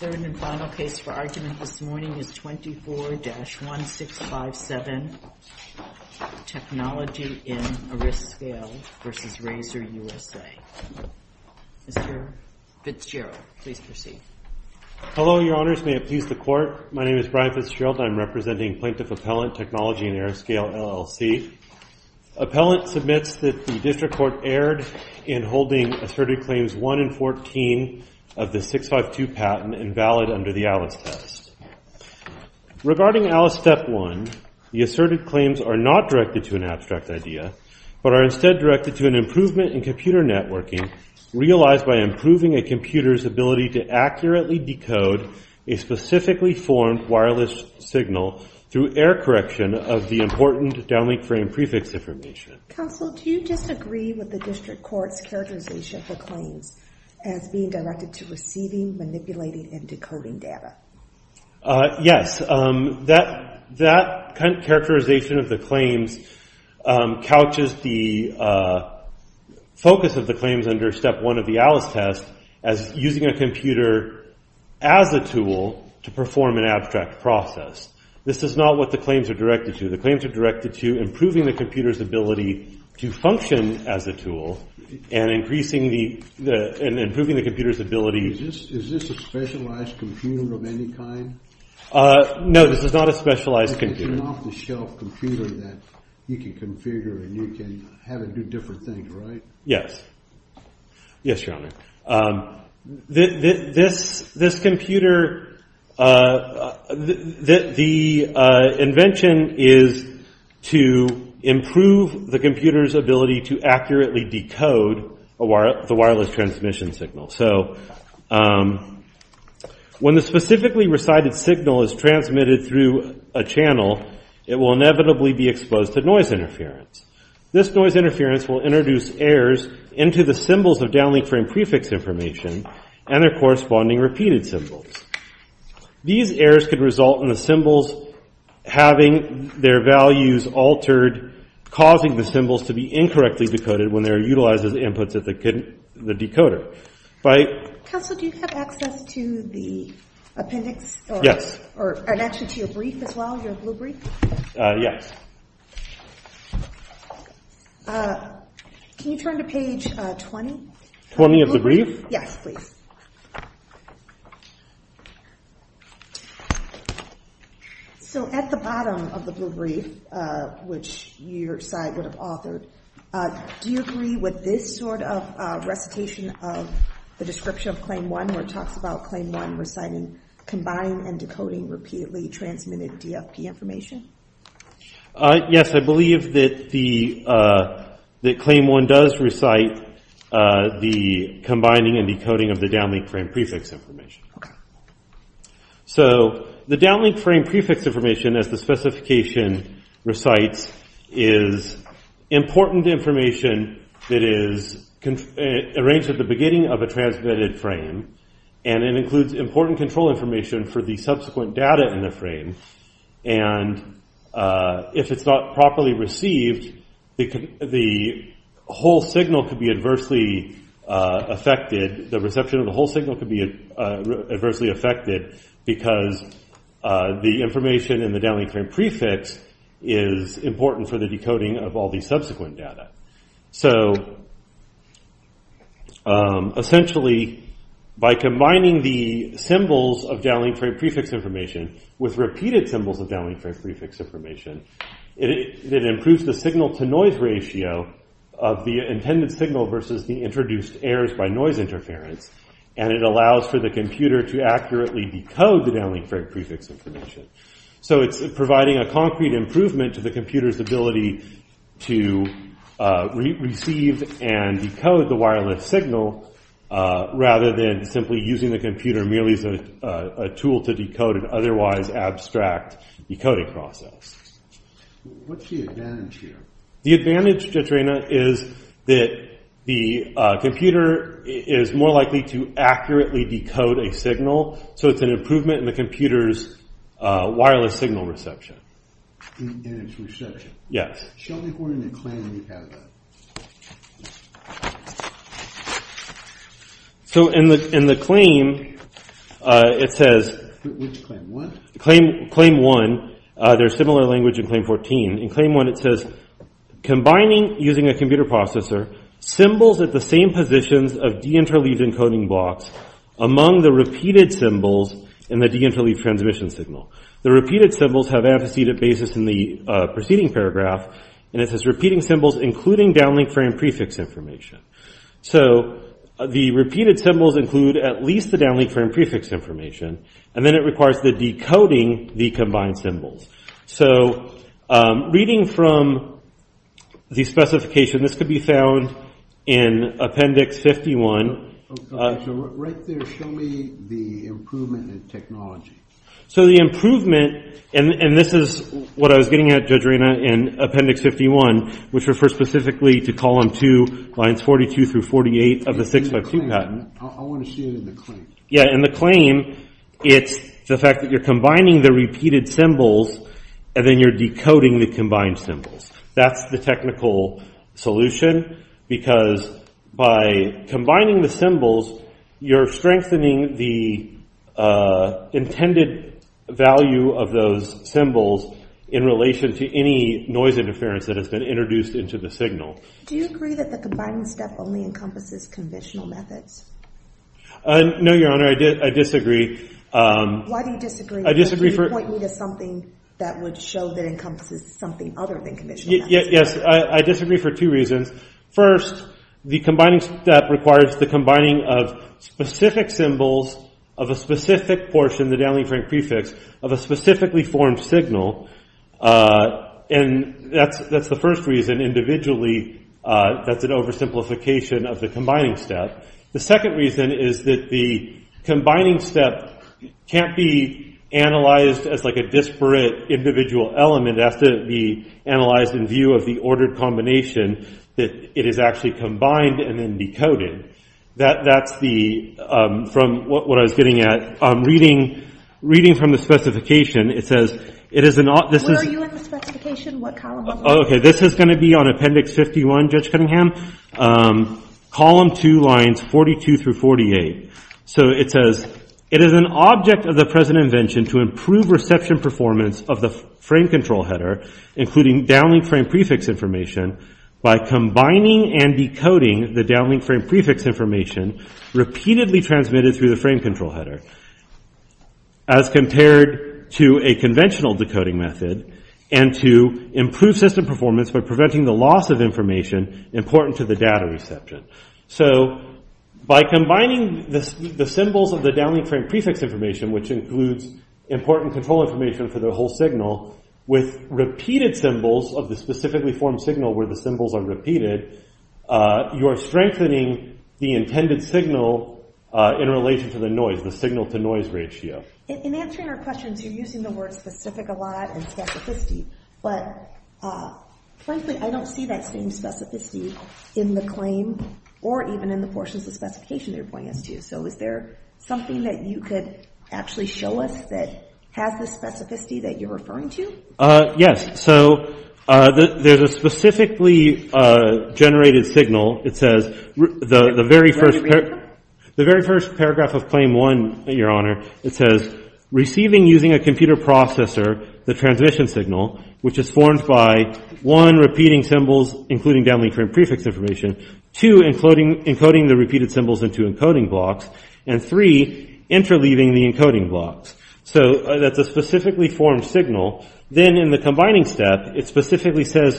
The third and final case for argument this morning is 24-1657, Technology in Ariscale v. Razer USA. Mr. Fitzgerald, please proceed. Hello, Your Honors. May it please the Court, my name is Brian Fitzgerald and I'm representing Plaintiff Appellant, Technology in Ariscale, LLC. Appellant submits that the District Court erred in holding Asserted Claims 1 and 14 of the 652 patent invalid under the ALIS test. Regarding ALIS Step 1, the Asserted Claims are not directed to an abstract idea, but are instead directed to an improvement in computer networking realized by improving a computer's ability to accurately decode a specifically formed wireless signal through error correction of the important downlink frame prefix information. Counsel, do you disagree with the District Court's characterization of the claims as being directed to receiving, manipulating, and decoding data? Yes. That characterization of the claims couches the focus of the claims under Step 1 of the ALIS test as using a computer as a tool to perform an abstract process. This is not what the claims are directed to. The claims are directed to improving the computer's ability to function as a tool and improving the computer's ability to... Is this a specialized computer of any kind? No, this is not a specialized computer. It's an off-the-shelf computer that you can configure and you can have it do different things, right? Yes. Yes, Your Honor. This computer... The invention is to improve the computer's ability to accurately decode the wireless transmission signal. So, when the specifically recited signal is transmitted through a channel, it will inevitably be exposed to noise interference. This noise interference will introduce errors into the symbols of downlink frame prefix information and their corresponding repeated symbols. These errors could result in the symbols having their values altered, causing the symbols to be incorrectly decoded when they're utilized as inputs at the decoder. Counsel, do you have access to the appendix? Yes. Or an action to your brief as well, your blue brief? Yes. Can you turn to page 20? 20 of the brief? Yes, please. So, at the bottom of the blue brief, which your side would have authored, do you agree with this sort of recitation of the description of Claim 1 where it talks about Claim 1 reciting combined and decoding repeatedly transmitted DFP information? Yes, I believe that Claim 1 does recite the combining and decoding of the downlink frame prefix information. Okay. So, the downlink frame prefix information, as the specification recites, is important information that is arranged at the beginning of a transmitted frame, and it includes important control information for the subsequent data in the frame, and if it's not properly received, the whole signal could be adversely affected, the reception of the whole signal could be adversely affected, because the information in the downlink frame prefix is important for the decoding of all the subsequent data. So, essentially, by combining the symbols of downlink frame prefix information with repeated symbols of downlink frame prefix information, it improves the signal-to-noise ratio of the intended signal versus the introduced errors by noise interference, and it allows for the computer to accurately decode the downlink frame prefix information. So, it's providing a concrete improvement to the computer's ability to receive and decode the wireless signal, rather than simply using the computer merely as a tool to decode an otherwise abstract decoding process. What's the advantage here? The advantage, Jetrena, is that the computer is more likely to accurately decode a signal, so it's an improvement in the computer's wireless signal reception. In its reception? Yes. Show me where in the claim you have that. So, in the claim, it says... Which claim, 1? Claim 1. There's similar language in Claim 14. In Claim 1, it says, Combining, using a computer processor, symbols at the same positions of deinterleaved encoding blocks among the repeated symbols in the deinterleaved transmission signal. The repeated symbols have antecedent basis in the preceding paragraph, and it says, Repeating symbols including downlink frame prefix information. So, the repeated symbols include at least the downlink frame prefix information, and then it requires the decoding the combined symbols. So, reading from the specification, this could be found in Appendix 51. Right there, show me the improvement in technology. So, the improvement, and this is what I was getting at, Jetrena, in Appendix 51, which refers specifically to Column 2, lines 42 through 48 of the 652 patent. I want to see it in the claim. Yeah, in the claim, it's the fact that you're combining the repeated symbols, and then you're decoding the combined symbols. That's the technical solution, because by combining the symbols, you're strengthening the intended value of those symbols in relation to any noise interference that has been introduced into the signal. Do you agree that the combining step only encompasses conventional methods? No, Your Honor, I disagree. Why do you disagree? I disagree for... Point me to something that would show that it encompasses something other than conventional methods. Yes, I disagree for two reasons. First, the combining step requires the combining of specific symbols of a specific portion, the downlink frame prefix, of a specifically formed signal, and that's the first reason. Individually, that's an oversimplification of the combining step. The second reason is that the combining step can't be analyzed as like a disparate individual element. It has to be analyzed in view of the ordered combination that it is actually combined and then decoded. That's the... From what I was getting at, reading from the specification, it says... Where are you in the specification? What column are you in? Okay, this is going to be on Appendix 51, Judge Cunningham. Column 2, lines 42 through 48. So it says... It is an object of the present invention to improve reception performance of the frame control header, including downlink frame prefix information, by combining and decoding the downlink frame prefix information repeatedly transmitted through the frame control header. As compared to a conventional decoding method, and to improve system performance by preventing the loss of information important to the data reception. So, by combining the symbols of the downlink frame prefix information, which includes important control information for the whole signal, with repeated symbols of the specifically formed signal where the symbols are repeated, you are strengthening the intended signal in relation to the noise, the signal-to-noise ratio. In answering our questions, you're using the word specific a lot, and specificity. But, frankly, I don't see that same specificity in the claim, or even in the portions of the specification that you're pointing us to. So is there something that you could actually show us that has the specificity that you're referring to? Yes. So, there's a specifically generated signal. It says, the very first paragraph of Claim 1, Your Honor, it says, Receiving using a computer processor the transmission signal, which is formed by, 1. Repeating symbols, including downlink frame prefix information. 2. Encoding the repeated symbols into encoding blocks. And 3. Interleaving the encoding blocks. So, that's a specifically formed signal. Then, in the combining step, it specifically says,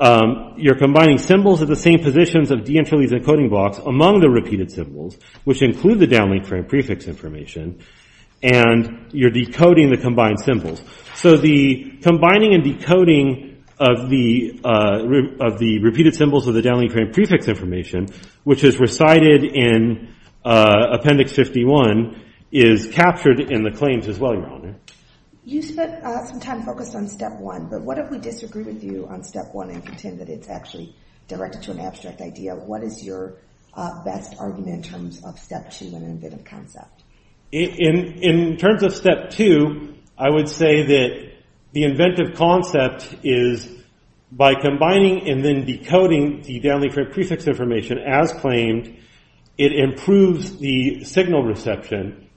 You're combining symbols at the same positions of de-encoding blocks among the repeated symbols, which include the downlink frame prefix information. And, you're decoding the combined symbols. So, the combining and decoding of the repeated symbols of the downlink frame prefix information, which is recited in Appendix 51, is captured in the claims as well, Your Honor. You spent some time focused on Step 1, but what if we disagree with you on Step 1 and pretend that it's actually directed to an abstract idea? What is your best argument in terms of Step 2 and Inventive Concept? In terms of Step 2, I would say that the Inventive Concept is, by combining and then decoding the downlink frame prefix information as claimed, it improves the signal reception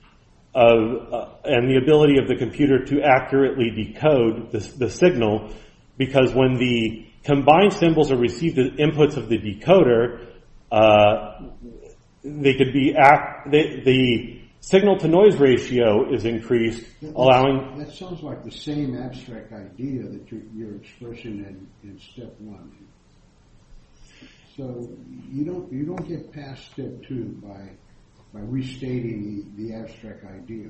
and the ability of the computer to accurately decode the signal, because when the combined symbols are received as inputs of the decoder, the signal-to-noise ratio is increased, allowing... That sounds like the same abstract idea that you're expressing in Step 1. So, you don't get past Step 2 by restating the abstract idea.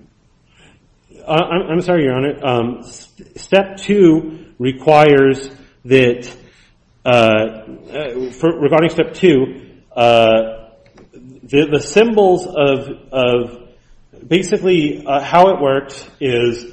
I'm sorry, Your Honor. Step 2 requires that... Regarding Step 2, the symbols of... Basically, how it works is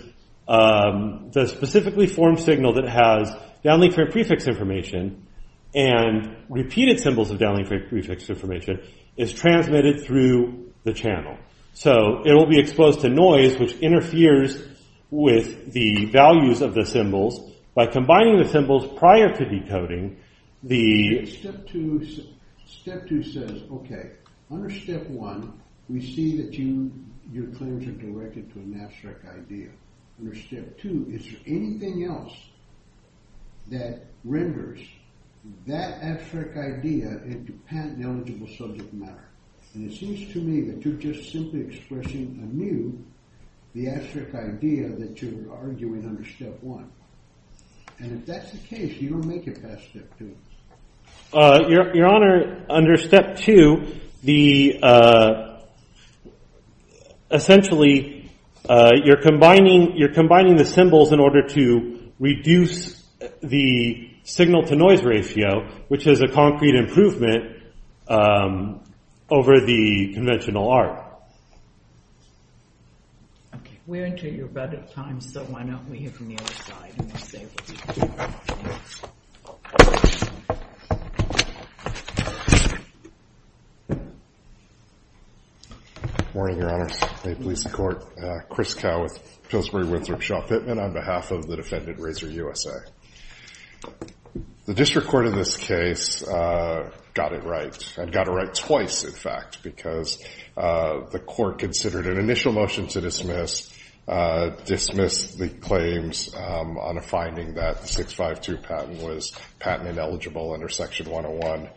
the specifically-formed signal that has downlink frame prefix information and repeated symbols of downlink frame prefix information is transmitted through the channel. So, it will be exposed to noise, which interferes with the values of the symbols. By combining the symbols prior to decoding, the... Step 2 says, okay, under Step 1, we see that your claims are directed to an abstract idea. Under Step 2, is there anything else that renders that abstract idea into patent-eligible subject matter? And it seems to me that you're just simply expressing anew the abstract idea that you're arguing under Step 1. And if that's the case, you don't make it past Step 2. Your Honor, under Step 2, essentially, you're combining the symbols in order to reduce the signal-to-noise ratio, which is a concrete improvement over the conventional art. Okay, we're into your budget time, so why don't we hear from the other side and we'll say what we think. Good morning, Your Honor, State Police and Court. Chris Cow with Pillsbury-Winthrop Shaw Pittman on behalf of the defendant, Razor USA. The district court in this case got it right. It got it right twice, in fact, because the court considered an initial motion to dismiss the claims on a finding that the 652 patent was patent-ineligible under Section 101,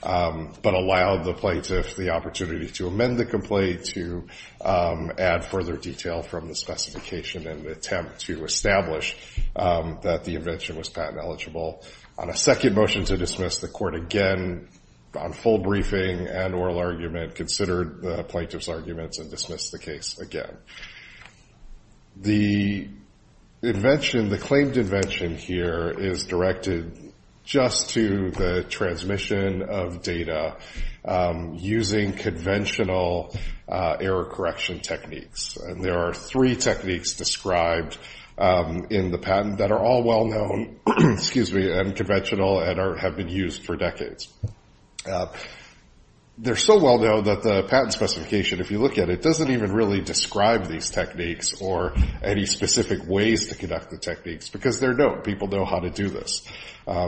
but allowed the plaintiff the opportunity to amend the complaint to add further detail from the specification and attempt to establish that the invention was patent-eligible. On a second motion to dismiss, the court again, on full briefing and oral argument, considered the plaintiff's arguments and dismissed the case again. The claimed invention here is directed just to the transmission of data using conventional error-correction techniques. There are three techniques described in the patent that are all well-known and conventional and have been used for decades. They're so well-known that the patent specification, if you look at it, doesn't even really describe these techniques or any specific ways to conduct the techniques because they're known. People know how to do this.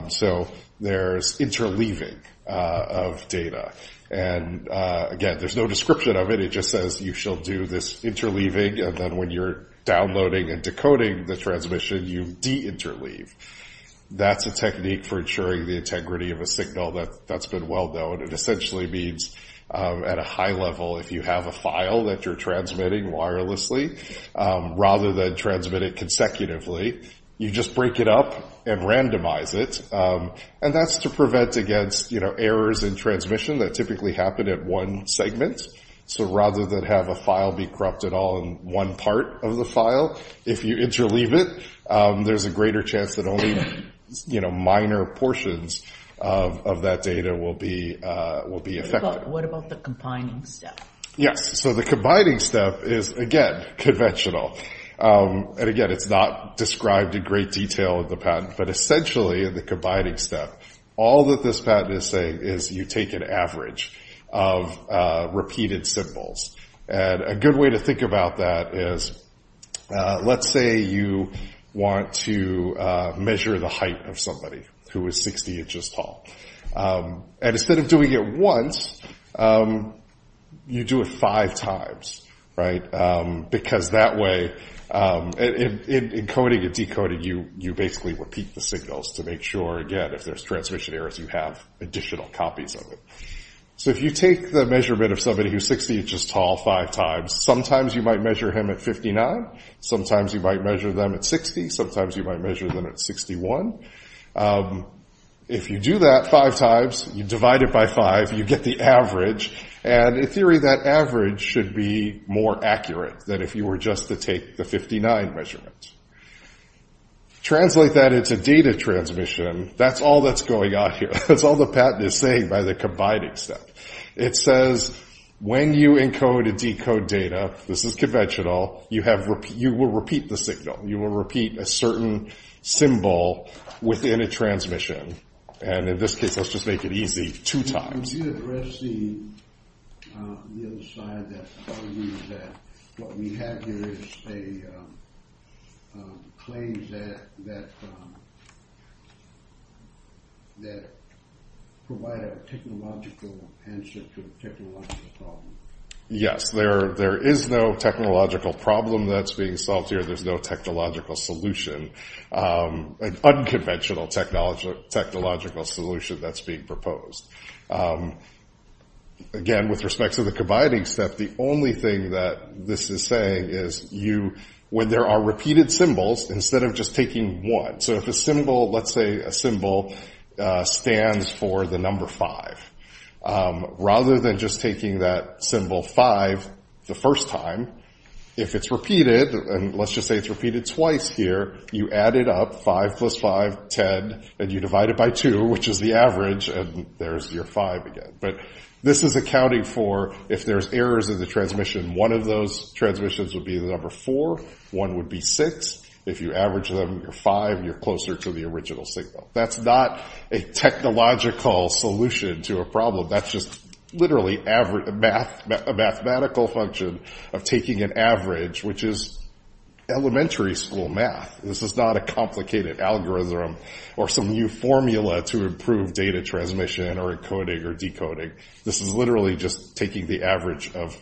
So there's interleaving of data. And again, there's no description of it. It just says you shall do this interleaving and then when you're downloading and decoding the transmission, you de-interleave. That's a technique for ensuring the integrity of a signal that's been well-known. It essentially means at a high level, if you have a file that you're transmitting wirelessly, rather than transmit it consecutively, you just break it up and randomize it. And that's to prevent against errors in transmission that typically happen at one segment. So rather than have a file be corrupted all in one part of the file, if you interleave it, there's a greater chance that only minor portions of that data will be affected. What about the combining step? Yes. So the combining step is, again, conventional. And again, it's not described in great detail in the patent, but essentially the combining step, all that this patent is saying is you take an average of repeated symbols. And a good way to think about that is, let's say you want to measure the height of somebody who is 60 inches tall. And instead of doing it once, you do it five times. Because that way, in coding and decoding, you basically repeat the signals to make sure, again, if there's transmission errors, you have additional copies of it. So if you take the measurement of somebody who's 60 inches tall five times, sometimes you might measure him at 59. Sometimes you might measure them at 60. Sometimes you might measure them at 61. If you do that five times, you divide it by five, you get the average. And in theory that average should be more accurate than if you were just to take the 59 measurement. Translate that into data transmission, that's all that's going on here. That's all the patent is saying by the combining step. It says when you encode and decode data, this is conventional, you will repeat the signal. You will repeat a certain symbol within a transmission. And in this case, let's just make it easy, two times................... Yes, there is no technological problem that's being solved here. There's no technological solution. An unconventional technological solution that's being proposed. Again, with respect to the combining step, the only thing that this is saying is when there are repeated symbols instead of just taking one. So if a symbol, let's say a symbol stands for the number five, rather than just taking that symbol five the first time, if it's repeated, and let's just say it's repeated twice here, you add it up, five plus five, ten, and you divide it by two, which is the average, and there's your five again. But this is accounting for if there's errors in the transmission, one of those transmissions would be the number four, one would be six. If you average them, you're five, you're closer to the original signal. That's not a technological solution to a problem. That's just literally a mathematical function of taking an average, which is elementary school math. This is not a complicated algorithm or some new formula to improve data transmission or encoding or decoding. This is literally just taking the average of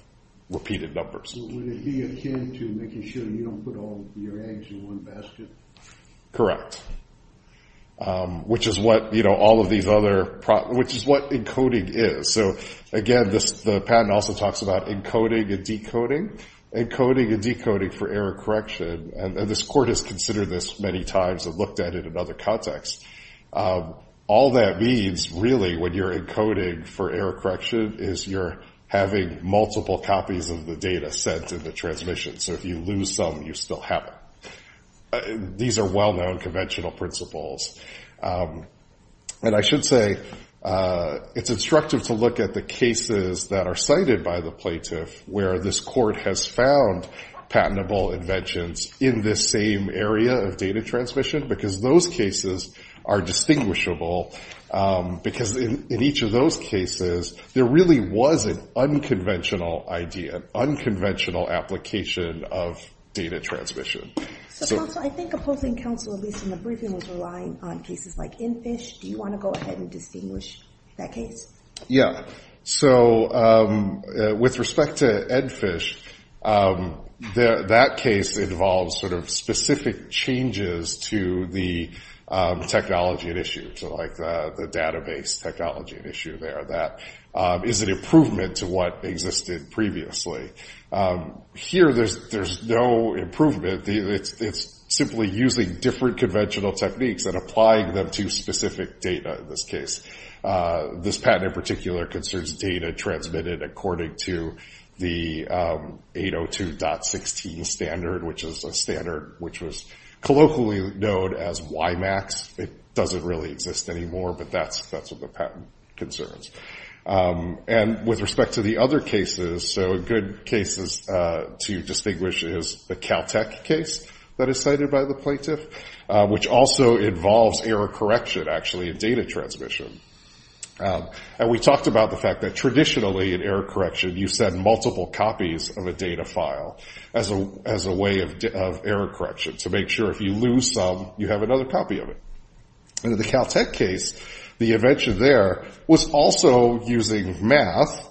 repeated numbers. Would it be akin to making sure you don't put all of your eggs in one basket? Correct. Which is what all of these other, which is what encoding is. So again the patent also talks about encoding and decoding. Encoding and decoding for error correction, and this court has considered this many times and looked at it in other contexts. All that means really when you're encoding for error correction is you're having multiple copies of the data sent in the transmission. So if you lose some you still have it. These are well-known conventional principles. And I should say it's instructive to look at the cases that are cited by the plaintiff where this court has found patentable inventions in this same area of data transmission because those cases are distinguishable because in each of those cases there really was an unconventional idea, an unconventional application of data transmission. So counsel, I think opposing counsel at least in the briefing was relying on cases like ENFISH. Do you want to go ahead and distinguish that case? Yeah. So with respect to ENFISH that case involves sort of specific changes to the technology at issue. So like the database technology at issue there. That is an improvement to what existed previously. Here there's no improvement it's simply using different conventional techniques and applying them to specific data in this case. This patent in particular concerns data transmitted according to the 802.16 standard, which is a standard which was colloquially known as YMAX. It doesn't really exist anymore, but that's what the patent concerns. And with respect to the other cases, so good cases to distinguish is the Caltech case that is cited by the plaintiff, which also involves error correction actually in data transmission. And we talked about the fact that traditionally in error correction you send multiple copies of a data file as a way of error correction to make sure if you lose some you have another copy of it. In the Caltech case, the invention there was also using math,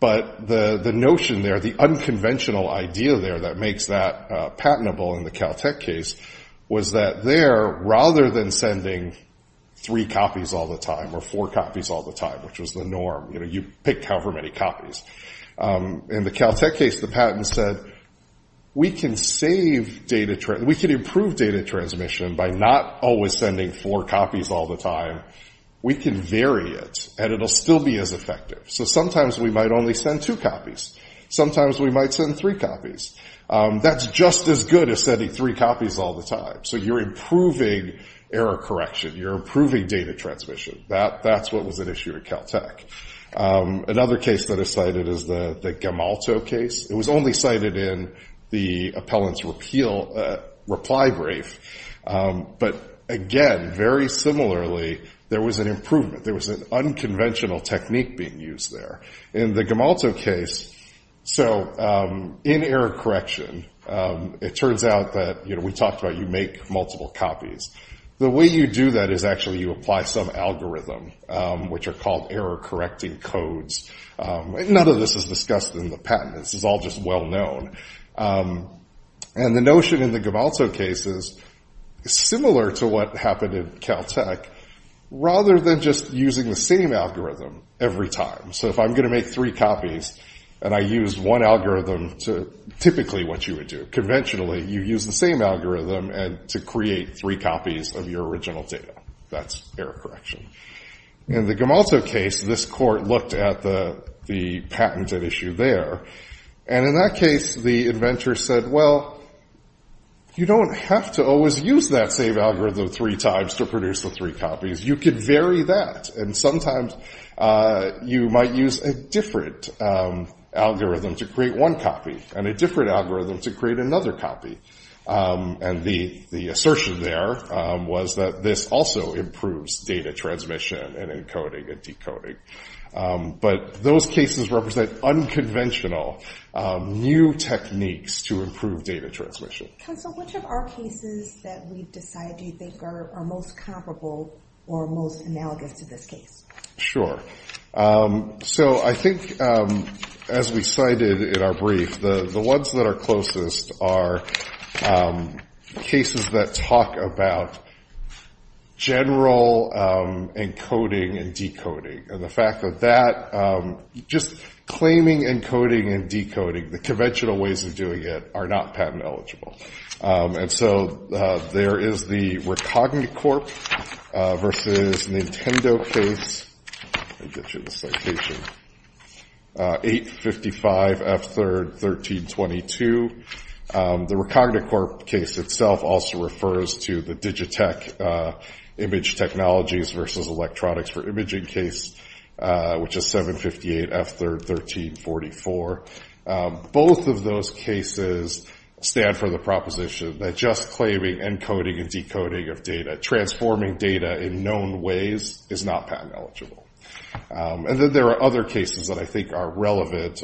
but the notion there, the unconventional idea there that makes that patentable in the Caltech case was that there rather than sending three copies all the time or four copies all the time which was the norm, you picked however many copies. In the Caltech case, the patent said we can improve data transmission by not always sending four copies all the time. We can vary it and it'll still be as effective. So sometimes we might only send two copies. Sometimes we might send three copies. That's just as good as sending three copies all the time. So you're improving error correction. You're improving data transmission. That's what was at issue at Caltech. Another case that is cited is the Gamalto case. It was only cited in the appellant's reply brief. But again, very similarly there was an improvement. There was an unconventional technique being used there. In the Gamalto case, so in error correction, it turns out that we talked about you make multiple copies. The way you do that is actually you apply some algorithm which are called error correcting codes. None of this is discussed in the patent. This is all just well known. And the notion in the Gamalto case is similar to what happened in Caltech, rather than just using the same algorithm every time. So if I'm going to make three copies and I use one algorithm, typically what you would do, conventionally, you use the same algorithm to create three copies of your original data. That's error correction. In the Gamalto case, this court looked at the patent at issue there. And in that case, the inventor said, well, you don't have to always use that same algorithm three times to produce the three copies. You could vary that. And sometimes you might use a different algorithm to create one copy. And a different algorithm to create another copy. And the assertion there was that this also improves data transmission and encoding and decoding. But those cases represent unconventional new techniques to improve data transmission. Counsel, which of our cases that we've decided you think are most comparable or most analogous to this case? Sure. So I think as we cited in our brief, the ones that are closest are cases that talk about general encoding and decoding. And the fact that that, just claiming encoding and decoding, the conventional ways of doing it, are not patent eligible. And so there is the RecogniCorp versus Nintendo case. Let me get you the citation. 855 F3rd 1322. The RecogniCorp case itself also refers to the Digitech image technologies versus electronics for imaging case, which is 758 F3rd 1344. Both of those cases stand for the proposition that just claiming encoding and decoding of data, transforming data in known ways, is not patent eligible. And then there are other cases that I think are relevant.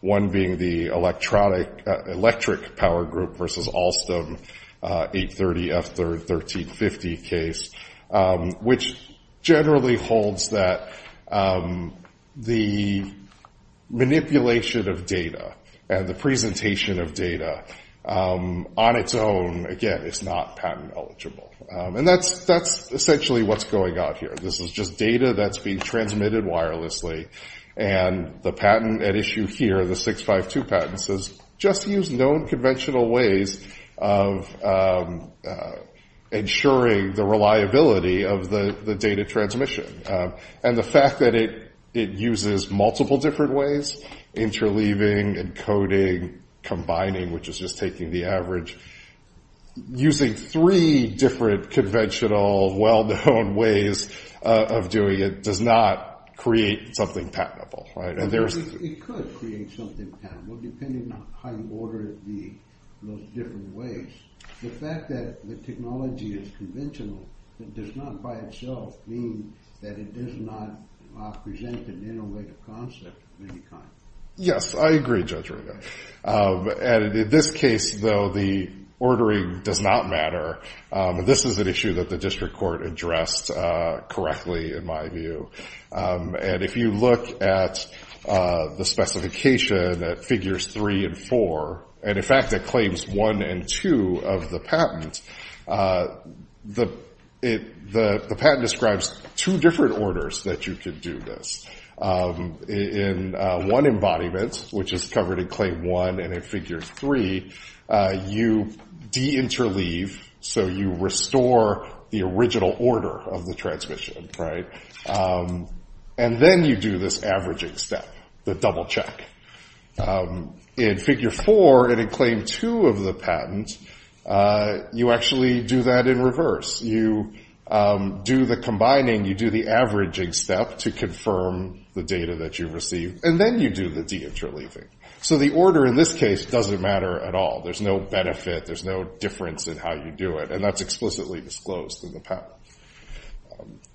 One being the electric power group versus Alstom 830 F3rd 1350 case, which generally holds that the manipulation of data and the presentation of data on its own, again, is not patent eligible. And that's essentially what's going on here. This is just data that's being transmitted wirelessly and the patent at issue here, the 652 patent, says just use known conventional ways of ensuring the reliability of the data transmission. And the fact that it uses multiple different ways, interleaving, encoding, combining, which is just taking the average, using three different conventional well-known ways of doing technology, it does not create something patentable. It could create something patentable, depending on how you order those different ways. The fact that the technology is conventional does not by itself mean that it does not present an innovative concept of any kind. Yes, I agree, Judge. In this case, though, the ordering does not matter. This is an issue that the district court addressed correctly, in my view. And if you look at the specification at figures 3 and 4, and in fact at claims 1 and 2 of the patent, the patent describes two different orders that you could do this. In one embodiment, which is covered in claim 1 and in figure 3, you deinterleave, so you restore the original order of the transmission. And then you do this averaging step, the double check. In figure 4, and in claim 2 of the patent, you actually do that in reverse. You do the combining, you do the averaging step to confirm the data that you receive, and then you do the deinterleaving. So the order in this case doesn't matter at all. There's no benefit, there's no difference in how you do it. And that's explicitly disclosed in the patent.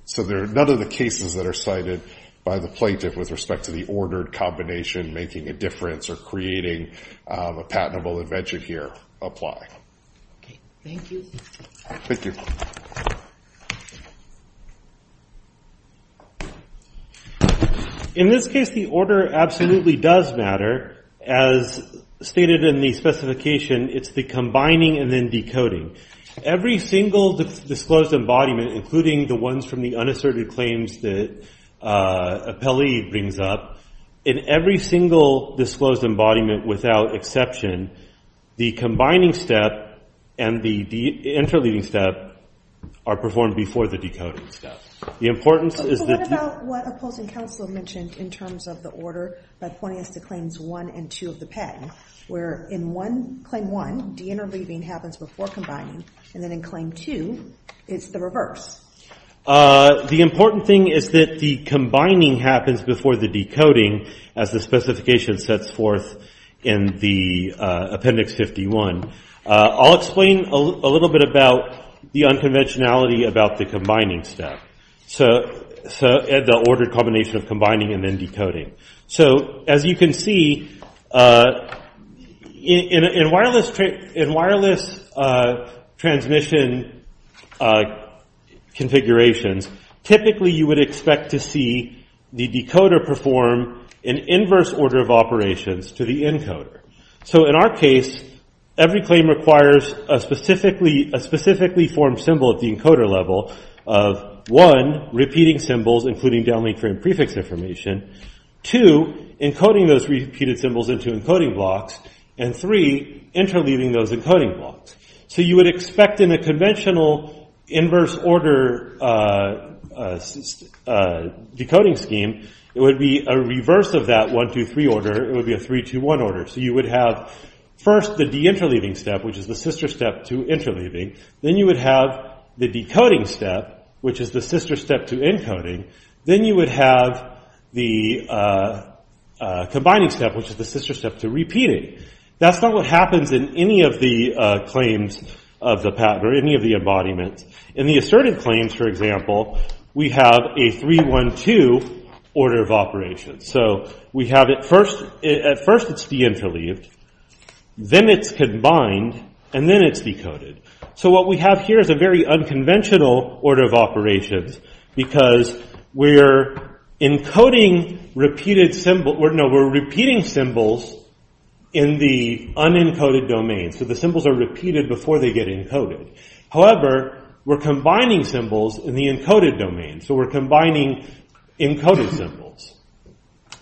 So none of the cases that are cited by the plaintiff with respect to the ordered combination making a difference or creating a patentable invention here apply. Thank you. In this case, the order absolutely does matter. As stated in the specification, it's the combining and then decoding. Every single disclosed embodiment, including the ones from the unasserted claims that Appellee brings up, in every single disclosed embodiment without exception, the combining step and the deinterleaving step are performed before the decoding step. So what about what opposing counsel mentioned in terms of the order by pointing us to claims 1 and 2 of the patent, where in claim 1, deinterleaving happens before combining, and then in claim 2, it's the reverse? The important thing is that the combining happens before the decoding, as the specification sets forth in the Appendix 51. I'll explain a little bit about the unconventionality about the combining step. The ordered combination of combining and then decoding. So, as you can see, in wireless transmission configurations, typically you would expect to see the decoder perform an inverse order of operations to the encoder. So in our case, every claim requires a specifically formed symbol at the encoder level of 1, repeating symbols including downlink frame prefix information, 2, encoding those repeated symbols into encoding blocks, and 3, interleaving those encoding blocks. So you would expect in a conventional inverse order decoding scheme it would be a reverse of that 1-2-3 order, it would be a 3-2-1 order. So you would have first the deinterleaving step, which is the sister step to interleaving, then you would have the decoding step, which is the sister step to encoding, then you would have the combining step, which is the sister step to repeating. That's not what happens in any of the claims of the pattern, or any of the embodiments. In the assertive claims, for example, we have a 3-1-2 order of operations. So we have at first it's deinterleaved, then it's combined, and then it's decoded. So what we have here is a very unconventional order of operations, because we're encoding repeated symbols in the unencoded domain. So the symbols are repeated before they get encoded. However, we're combining symbols in the encoded domain. So we're combining encoded symbols.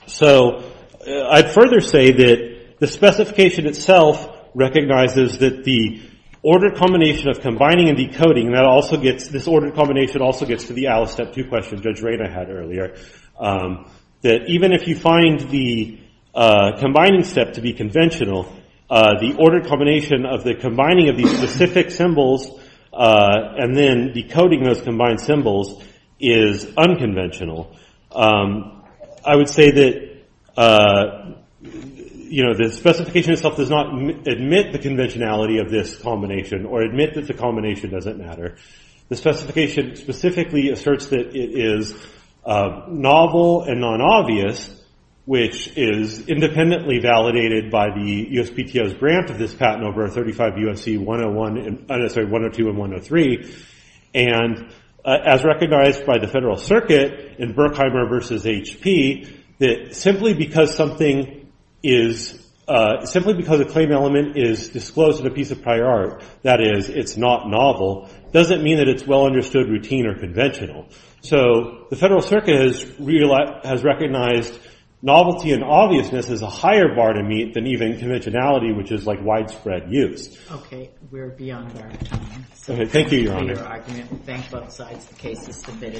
So, I'd further say that the specification itself recognizes that the order combination of combining and decoding also gets to the Alice Step 2 question Judge Rayner had earlier. Even if you find the combining step to be conventional, the order combination of the combining of these specific symbols and then decoding those combined symbols is unconventional. I would say that the specification itself does not admit the conventionality of this combination, or admit that the combination doesn't matter. The specification specifically asserts that it is novel and non-obvious, which is independently validated by the USPTO's grant of this patent over 35 U.S.C. 102 and 103. As recognized by the Federal Circuit in Berkheimer v. HP, that simply because something is simply because a claim element is disclosed in a piece of prior art, that is it's not novel, doesn't mean that it's well understood, routine, or conventional. So, the Federal Circuit has recognized novelty and obviousness as a higher bar to meet than even conventionality, which is like widespread use. Thank you, Your Honor.